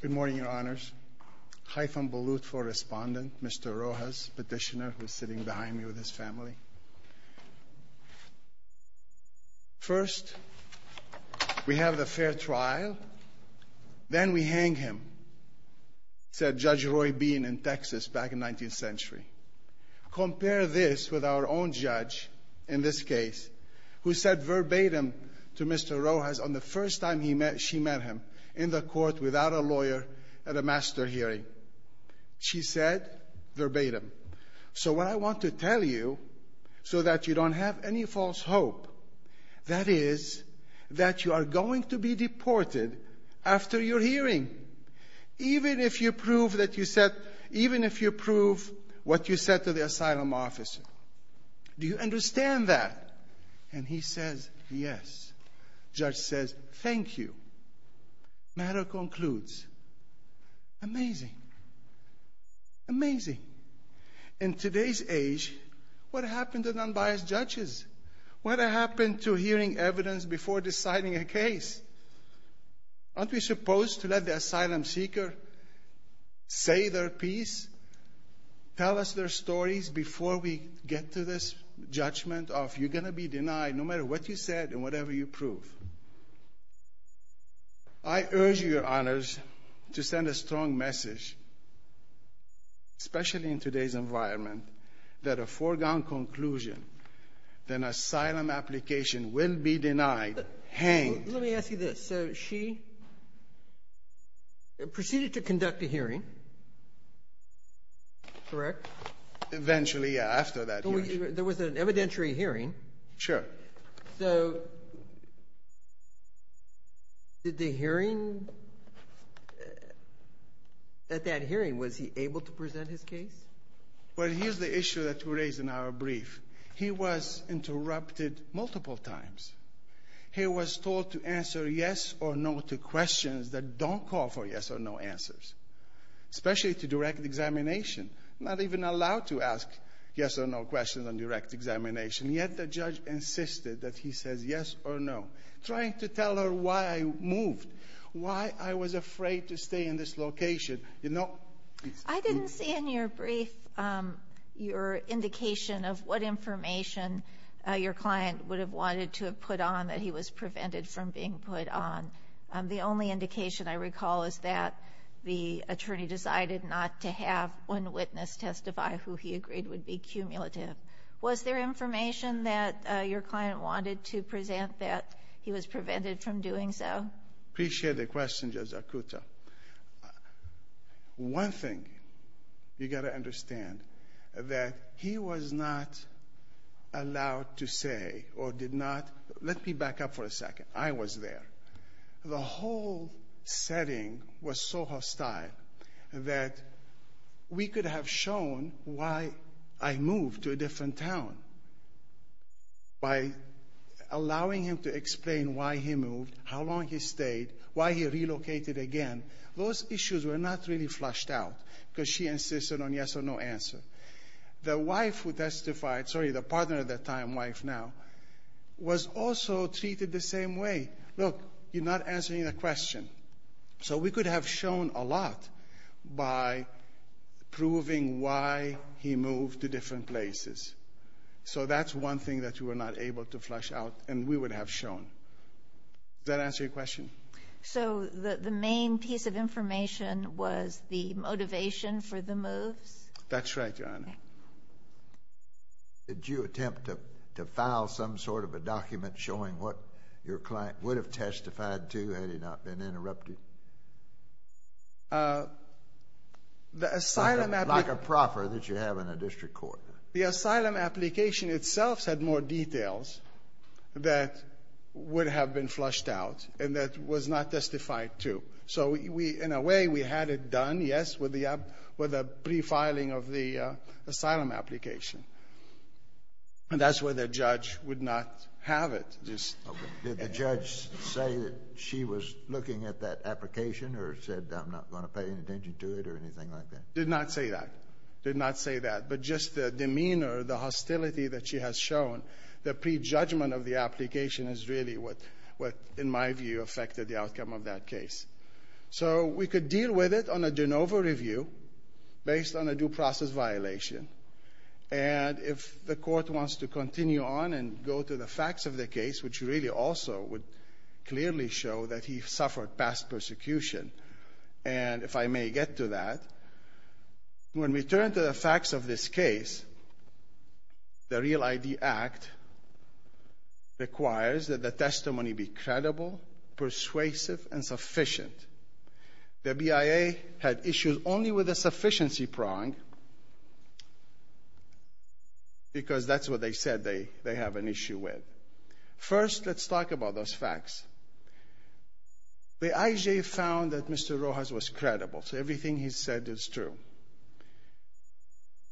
Good morning, Your Honors. Haitham Balut for Respondent, Mr. Rojas, Petitioner, who's sitting behind me with his family. First, we have the fair trial. Then we hang him, said Judge Roy Bean in Texas back in the 19th century. Compare this with our own judge in this case, who said verbatim to Mr. Rojas on the first time she met him in the court without a lawyer at a master hearing. She said verbatim, So what I want to tell you so that you don't have any false hope, that is, that you are going to be deported after your hearing, even if you prove what you said to the asylum officer. Do you understand that? And he says, yes. Judge says, thank you. Matter concludes. Amazing. Amazing. In today's age, what happened to non-biased judges? What happened to hearing evidence before deciding a case? Aren't we supposed to let the asylum seeker say their piece, tell us their stories before we get to this judgment of, you're going to be denied no matter what you said and whatever you prove? I urge you, Your Honors, to send a strong message, especially in today's environment, that a foregone conclusion, that an asylum application will be denied, hanged. Let me ask you this. So she proceeded to conduct a hearing, correct? Eventually, yeah, after that hearing. There was an evidentiary hearing. Sure. So did the hearing at that hearing, was he able to present his case? Well, here's the issue that we raised in our brief. He was interrupted multiple times. He was told to answer yes or no to questions that don't call for yes or no answers, especially to direct examination, not even allowed to ask yes or no questions on direct examination, yet the judge insisted that he says yes or no, trying to tell her why I moved, why I was afraid to stay in this location. I didn't see in your brief your indication of what information your client would have wanted to have put on that he was prevented from being put on. The only indication I recall is that the attorney decided not to have one witness testify, who he agreed would be cumulative. Was there information that your client wanted to present that he was prevented from doing so? Appreciate the question, Judge Akuta. One thing you got to understand, that he was not allowed to say or did not, let me back up for a second, I was there. The whole setting was so hostile that we could have shown why I moved to a different town by allowing him to explain why he moved, how long he stayed, why he relocated again. Those issues were not really flushed out because she insisted on yes or no answer. The wife who testified, sorry, the partner at that time, wife now, was also treated the same way. Look, you're not answering the question. So we could have shown a lot by proving why he moved to different places. So that's one thing that you were not able to flush out and we would have shown. Does that answer your question? So the main piece of information was the motivation for the moves? That's right, Your Honor. Did you attempt to file some sort of a document showing what your client would have testified to had he not been interrupted? Like a proffer that you have in a district court. The asylum application itself had more details that would have been flushed out and that was not testified to. So in a way we had it done, yes, with a pre-filing of the asylum application. And that's where the judge would not have it. Did the judge say that she was looking at that application or said, I'm not going to pay any attention to it or anything like that? Did not say that. Did not say that. But just the demeanor, the hostility that she has shown, the prejudgment of the application is really what, in my view, affected the outcome of that case. So we could deal with it on a de novo review based on a due process violation. And if the court wants to continue on and go to the facts of the case, which really also would clearly show that he suffered past persecution, and if I may get to that, when we turn to the facts of this case, the REAL-ID Act requires that the testimony be credible, persuasive, and sufficient. The BIA had issues only with a sufficiency prong because that's what they said they have an issue with. First, let's talk about those facts. The IJ found that Mr. Rojas was credible, so everything he said is true.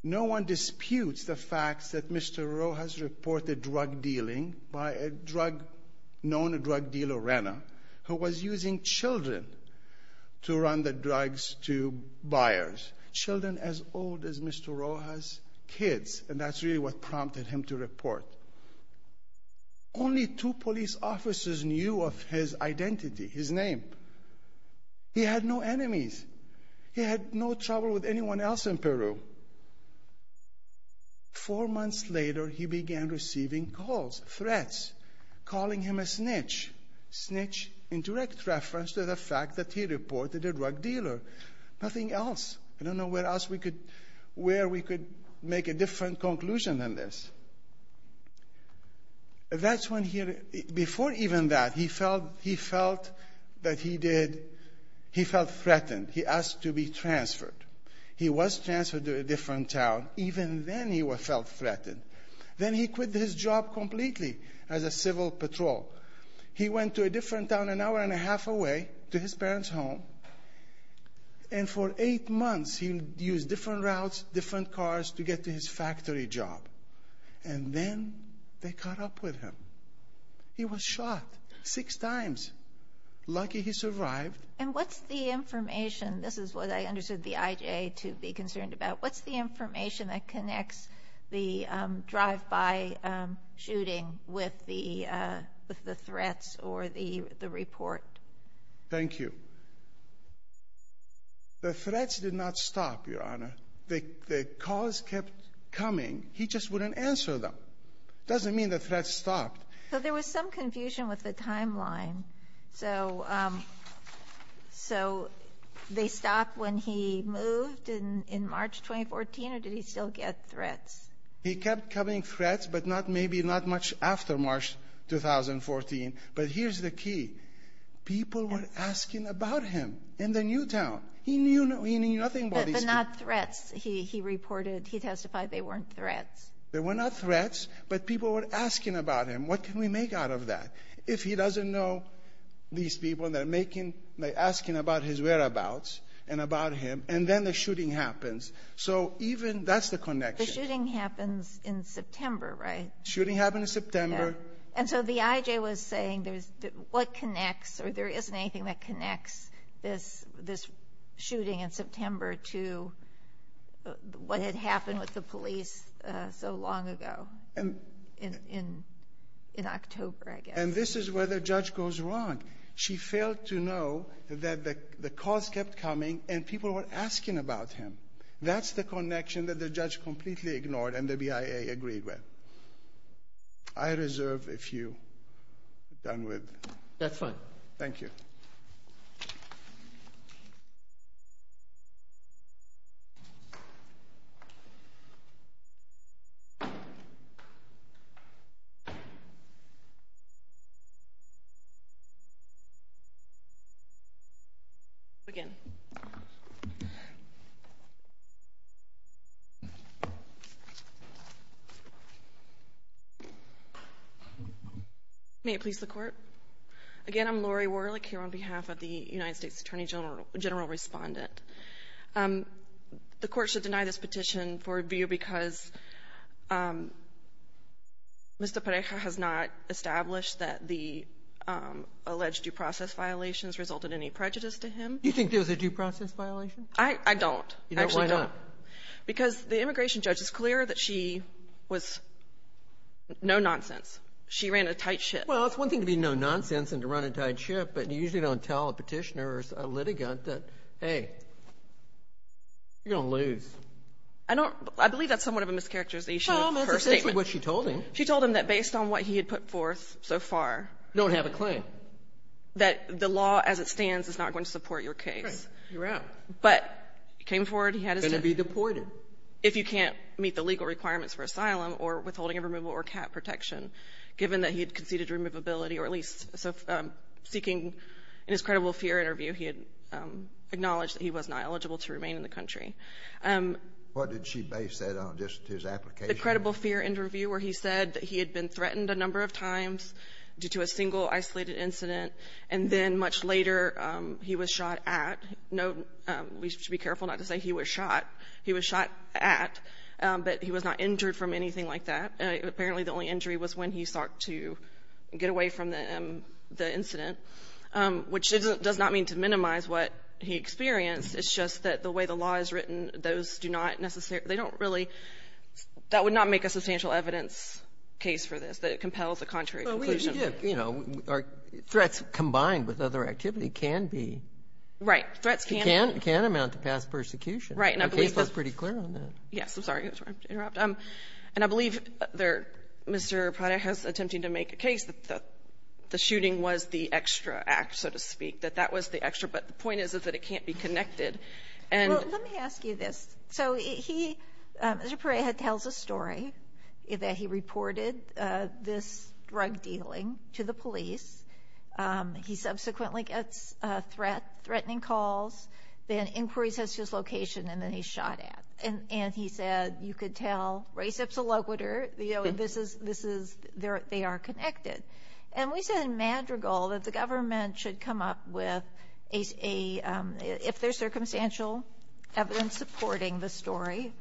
No one disputes the facts that Mr. Rojas reported drug dealing by a drug dealer, Rana, who was using children to run the drugs to buyers. Children as old as Mr. Rojas' kids, and that's really what prompted him to report. Only two police officers knew of his identity, his name. He had no enemies. Four months later, he began receiving calls, threats, calling him a snitch, snitch in direct reference to the fact that he reported a drug dealer. Nothing else. I don't know where else we could – where we could make a different conclusion than this. That's when he – before even that, he felt – he felt that he did – he felt threatened. He asked to be transferred. He was transferred to a different town. Even then he felt threatened. Then he quit his job completely as a civil patrol. He went to a different town an hour and a half away to his parents' home, and for eight months he used different routes, different cars to get to his factory job. And then they caught up with him. He was shot six times. Lucky he survived. And what's the information – this is what I understood the IJ to be concerned about. What's the information that connects the drive-by shooting with the threats or the report? Thank you. The threats did not stop, Your Honor. The calls kept coming. He just wouldn't answer them. It doesn't mean the threats stopped. So there was some confusion with the timeline. So they stopped when he moved in March 2014, or did he still get threats? He kept coming threats, but maybe not much after March 2014. But here's the key. People were asking about him in the new town. He knew nothing about these people. But not threats, he reported. He testified they weren't threats. They were not threats, but people were asking about him. What can we make out of that? If he doesn't know these people, they're asking about his whereabouts and about him, and then the shooting happens. So even that's the connection. The shooting happens in September, right? Shooting happened in September. And so the IJ was saying what connects, or there isn't anything that connects this shooting in September to what had happened with the police so long ago in October, I guess. And this is where the judge goes wrong. She failed to know that the calls kept coming and people were asking about him. That's the connection that the judge completely ignored and the BIA agreed with. I reserve a few done with. That's fine. Thank you. Thank you. Again. Again, I'm Lori Warlick here on behalf of the United States Attorney General General Respondent. The Court should deny this petition for review because Mr. Pareja has not established that the alleged due process violations resulted in any prejudice to him. Do you think there was a due process violation? I don't. You don't? Why not? Because the immigration judge is clear that she was no-nonsense. She ran a tight ship. Well, it's one thing to be no-nonsense and to run a tight ship, but you usually don't tell a petitioner or a litigant that, hey, you're going to lose. I don't — I believe that's somewhat of a mischaracterization of her statement. Well, that's essentially what she told him. She told him that based on what he had put forth so far — You don't have a claim. — that the law as it stands is not going to support your case. Right. You're out. But he came forward. He had his — Going to be deported. If you can't meet the legal requirements for asylum or withholding of removal or cap protection, given that he had conceded removability or at least — so seeking — in his credible fear interview, he had acknowledged that he was not eligible to remain in the country. What did she base that on? Just his application? The credible fear interview where he said that he had been threatened a number of times due to a single isolated incident, and then much later he was shot at. Note — we should be careful not to say he was shot. He was shot at, but he was not injured from anything like that. Apparently, the only injury was when he sought to get away from the incident, which doesn't — does not mean to minimize what he experienced. It's just that the way the law is written, those do not necessarily — they don't really — that would not make a substantial evidence case for this, that it compels a contrary conclusion. Well, we — you know, threats combined with other activity can be — Right. Threats can — Can amount to past persecution. Right. And I believe that — The case was pretty clear on that. Yes, I'm sorry. I'm sorry to interrupt. And I believe there — Mr. Prada has attempted to make a case that the shooting was the extra act, so to speak, that that was the extra. But the point is, is that it can't be connected. And — Well, let me ask you this. So he — Mr. Prada tells a story that he reported this drug dealing to the police. He subsequently gets a threat, threatening calls. Then inquiries as to his location, and then he's shot at. And he said, you could tell, res ipsa loquitur. You know, this is — they are connected. And we said in Madrigal that the government should come up with a — if there's circumstantial evidence supporting the story,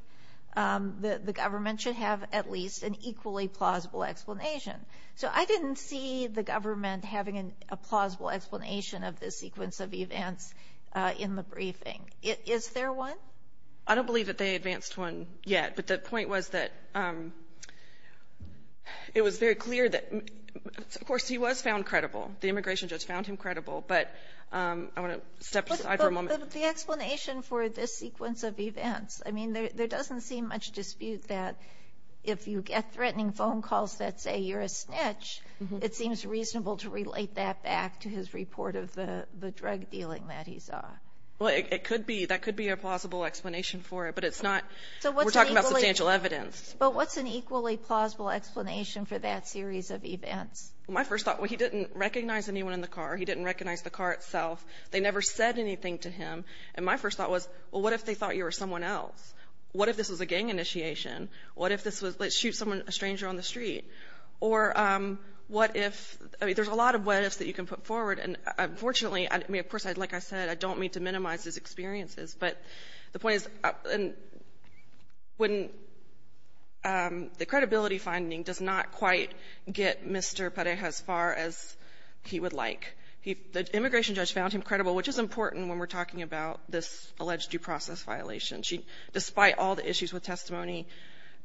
the government should have at least an equally plausible explanation. So I didn't see the government having a plausible explanation of this sequence of events in the briefing. Is there one? I don't believe that they advanced one yet. But the point was that it was very clear that — of course, he was found credible. The immigration judge found him credible. But I want to step aside for a moment. But the explanation for this sequence of events, I mean, there doesn't seem much dispute that if you get threatening phone calls that say you're a snitch, it seems reasonable to relate that back to his report of the drug dealing that he saw. Well, it could be. That could be a plausible explanation for it. But it's not — we're talking about substantial evidence. But what's an equally plausible explanation for that series of events? My first thought, well, he didn't recognize anyone in the car. He didn't recognize the car itself. They never said anything to him. And my first thought was, well, what if they thought you were someone else? What if this was a gang initiation? What if this was, let's shoot someone, a stranger on the street? Or what if — I mean, there's a lot of what ifs that you can put forward. And unfortunately, I mean, of course, like I said, I don't mean to minimize his experiences. But the point is, when the credibility finding does not quite get Mr. Pereja as far as he would like, the immigration judge found him credible, which is important when we're talking about this alleged due process violation. Despite all the issues with testimony,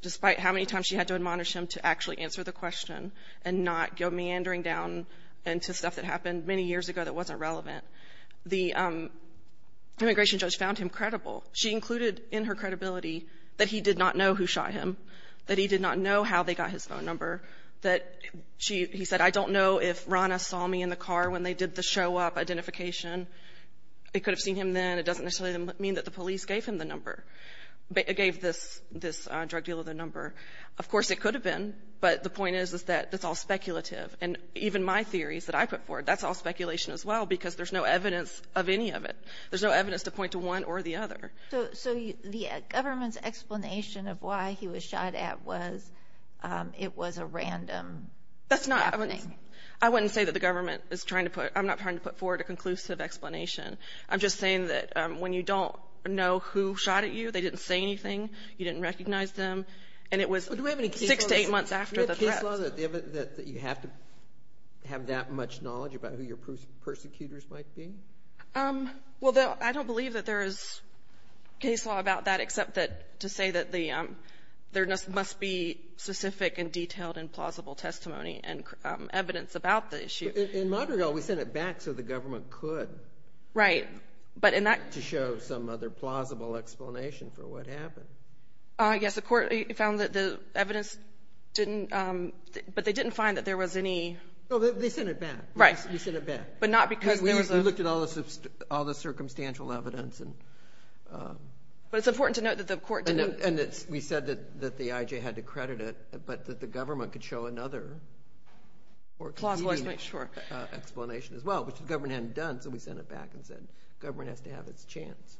despite how many times she had to admonish him to actually answer the question and not go meandering down into stuff that happened many years ago that wasn't relevant, the immigration judge found him credible. She included in her credibility that he did not know who shot him, that he did not know how they got his phone number, that she — he said, I don't know if Rana saw me in the car when they did the show-up identification. They could have seen him then. It doesn't necessarily mean that the police gave him the number — gave this drug dealer the number. Of course, it could have been. But the point is, is that it's all speculative. And even my theories that I put forward, that's all speculation as well, because there's no evidence of any of it. There's no evidence to point to one or the other. So the government's explanation of why he was shot at was it was a random happening? That's not — I wouldn't say that the government is trying to put — I'm not trying to put forward a conclusive explanation. I'm just saying that when you don't know who shot at you, they didn't say anything, you didn't recognize them. And it was six to eight months after the threat. Do we have any case law that you have to have that much knowledge about who your persecutors might be? Well, I don't believe that there is case law about that, except that — to say that the — there must be specific and detailed and plausible testimony and evidence about the issue. In Montreal, we sent it back so the government could. Right. But in that — To show some other plausible explanation for what happened. Yes, the court found that the evidence didn't — but they didn't find that there was any — No, they sent it back. Right. They sent it back. But not because there was a — Because we looked at all the circumstantial evidence and — But it's important to note that the court didn't — And we said that the IJ had to credit it, but that the government could show another or conclusive — Clause-wise, make sure. — explanation as well, which the government hadn't done, so we sent it back and said government has to have its chance.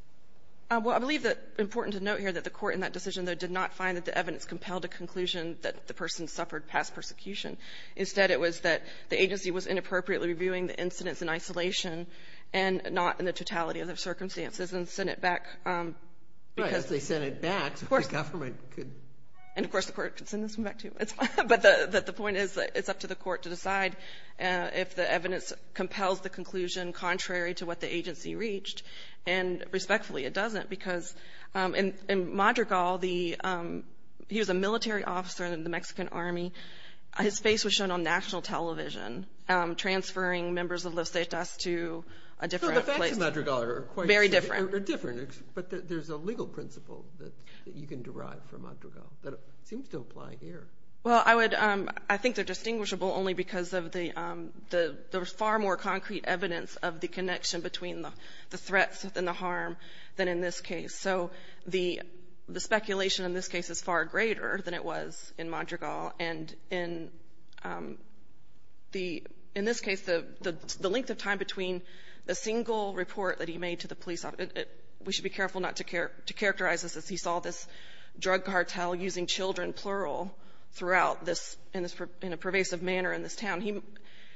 Well, I believe that it's important to note here that the court in that decision, though, did not find that the evidence compelled a conclusion that the person suffered past persecution. Instead, it was that the agency was inappropriately reviewing the incidents in isolation and not in the totality of the circumstances and sent it back because — Well, yes, they sent it back. Of course. The government could — And, of course, the court could send this one back, too. But the point is that it's up to the court to decide if the evidence compels the conclusion contrary to what the agency reached. And, respectfully, it doesn't, because in Madrigal, the — he was a military officer in the Mexican Army. His face was shown on national television transferring members of Los Cetas to a different place. So the facts in Madrigal are quite — Very different. — are different, but there's a legal principle that you can derive from Madrigal that seems to apply here. Well, I would — There's far more concrete evidence of the connection between the threats and the harm than in this case. So the speculation in this case is far greater than it was in Madrigal. And in the — in this case, the length of time between the single report that he made to the police officer — we should be careful not to characterize this as he saw this drug cartel using children, plural, throughout this — in a pervasive manner in this town.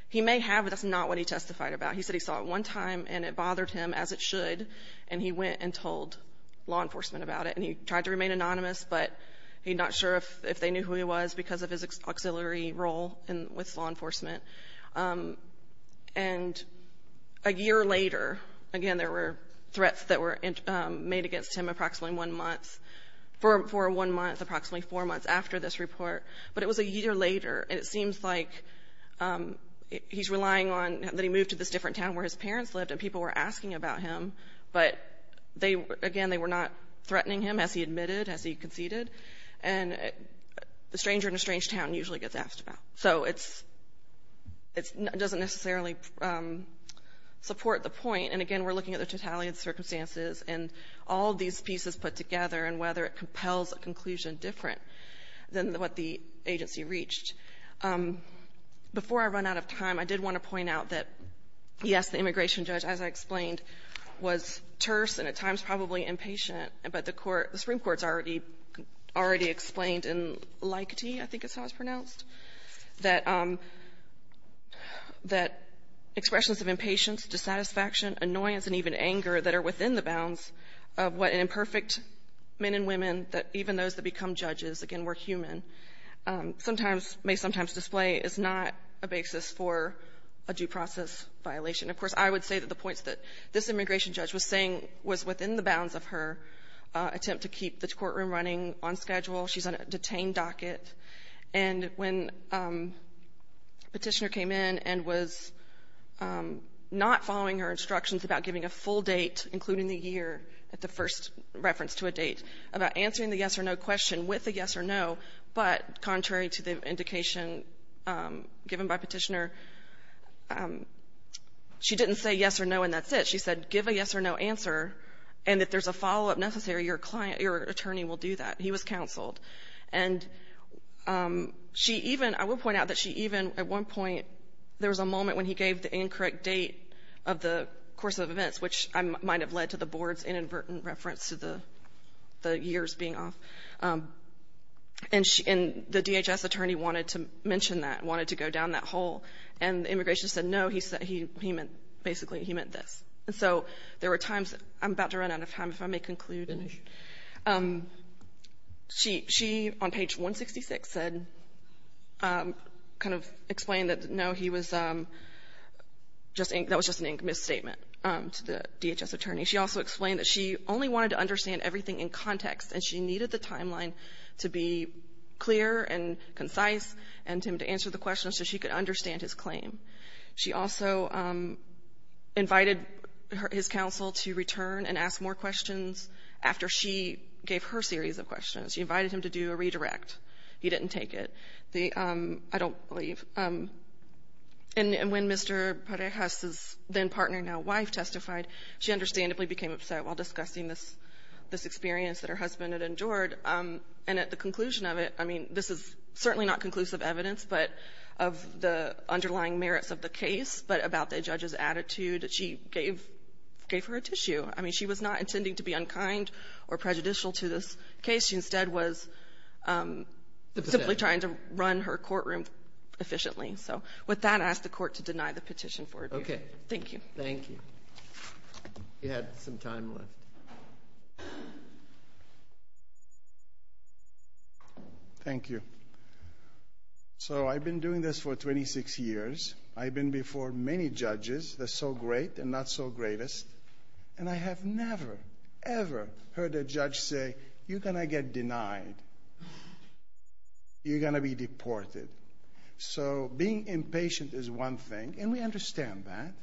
He may have, but that's not what he testified about. He said he saw it one time, and it bothered him, as it should. And he went and told law enforcement about it. And he tried to remain anonymous, but he's not sure if they knew who he was because of his auxiliary role with law enforcement. And a year later, again, there were threats that were made against him approximately one month — for one month, approximately four months after this report. But it was a year later, and it seems like he's relying on — that he moved to this different town where his parents lived, and people were asking about him, but they — again, they were not threatening him, as he admitted, as he conceded. And the stranger in a strange town usually gets asked about. So it's — it doesn't necessarily support the point. And again, we're looking at the totalitarian circumstances and all these pieces put together and whether it compels a conclusion different than what the agency reached. Before I run out of time, I did want to point out that, yes, the immigration judge, as I explained, was terse and at times probably impatient, but the court — the Supreme Court's already — already explained in Likety, I think is how it's pronounced, that — that expressions of impatience, dissatisfaction, annoyance, and even anger that are within the bounds of what an imperfect men and women, even those that become judges — again, we're human — sometimes — may sometimes display is not a basis for a due process violation. Of course, I would say that the points that this immigration judge was saying was within the bounds of her attempt to keep the courtroom running on schedule. She's on a detained docket. And when Petitioner came in and was not following her instructions about giving a full date, including the year at the first reference to a date, about answering the yes-or-no question with a yes-or-no, but contrary to the indication given by Petitioner, she didn't say yes or no and that's it. She said give a yes-or-no answer, and if there's a follow-up necessary, your client — your attorney will do that. He was counseled. And she even — I will point out that she even, at one point, there was a moment when he gave the incorrect date of the course of events, which might have led to the board's inadvertent reference to the years being off. And the DHS attorney wanted to mention that, wanted to go down that hole. And the immigration said, no, he meant — basically, he meant this. And so there were times — I'm about to run out of time, if I may conclude. She — she, on page 166, said — kind of explained that, no, he was just — that was just a misstatement to the DHS attorney. She also explained that she only wanted to understand everything in context, and she needed the timeline to be clear and concise and to answer the questions so she could understand his claim. She also invited his counsel to return and ask more questions after she gave her series of questions. She invited him to do a redirect. He didn't take it. The — I don't believe. And when Mr. Parejas's then-partner, now-wife, testified, she understandably became upset while discussing this — this experience that her husband had endured. And at the conclusion of it — I mean, this is certainly not conclusive evidence, but — of the underlying merits of the case, but about the judge's attitude, she gave — gave her a tissue. I mean, she was not intending to be unkind or prejudicial to this case. She instead was simply trying to run her courtroom efficiently. So with that, I ask the Court to deny the petition for review. Thank you. Thank you. We had some time left. Thank you. So I've been doing this for 26 years. I've been before many judges that's so great and not so greatest. And I have never, ever heard a judge say, you're going to get denied. You're going to be deported. So being impatient is one thing, and we understand that.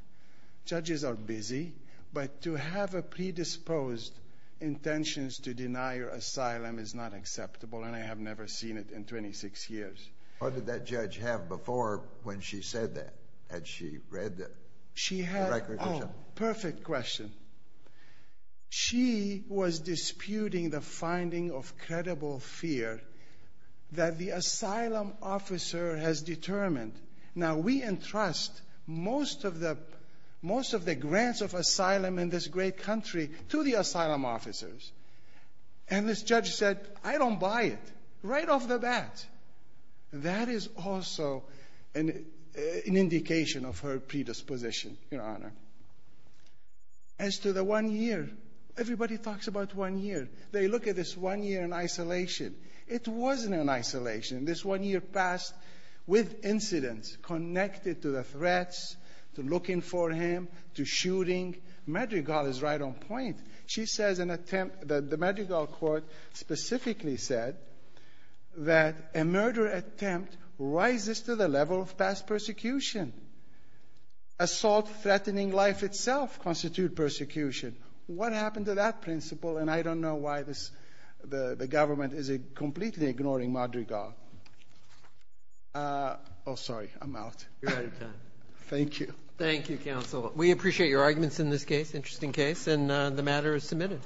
Judges are busy. But to have a predisposed intentions to deny your asylum is not acceptable, and I have never seen it in 26 years. What did that judge have before when she said that? Had she read the record? Oh, perfect question. She was disputing the finding of credible fear that the asylum officer has determined. Now, we entrust most of the grants of asylum in this great country to the asylum officers. And this judge said, I don't buy it, right off the bat. That is also an indication of her predisposition, Your Honor. As to the one year, everybody talks about one year. They look at this one year in isolation. It wasn't in isolation. This one year passed with incidents connected to the threats, to looking for him, to shooting. Madrigal is right on point. She says an attempt that the Madrigal court specifically said that a murder attempt rises to the level of past persecution. Assault threatening life itself constitute persecution. What happened to that principle? And I don't know why the government is completely ignoring Madrigal. Oh, sorry, I'm out. You're out of time. Thank you. Thank you, counsel. We appreciate your arguments in this case, interesting case. And the matter is submitted.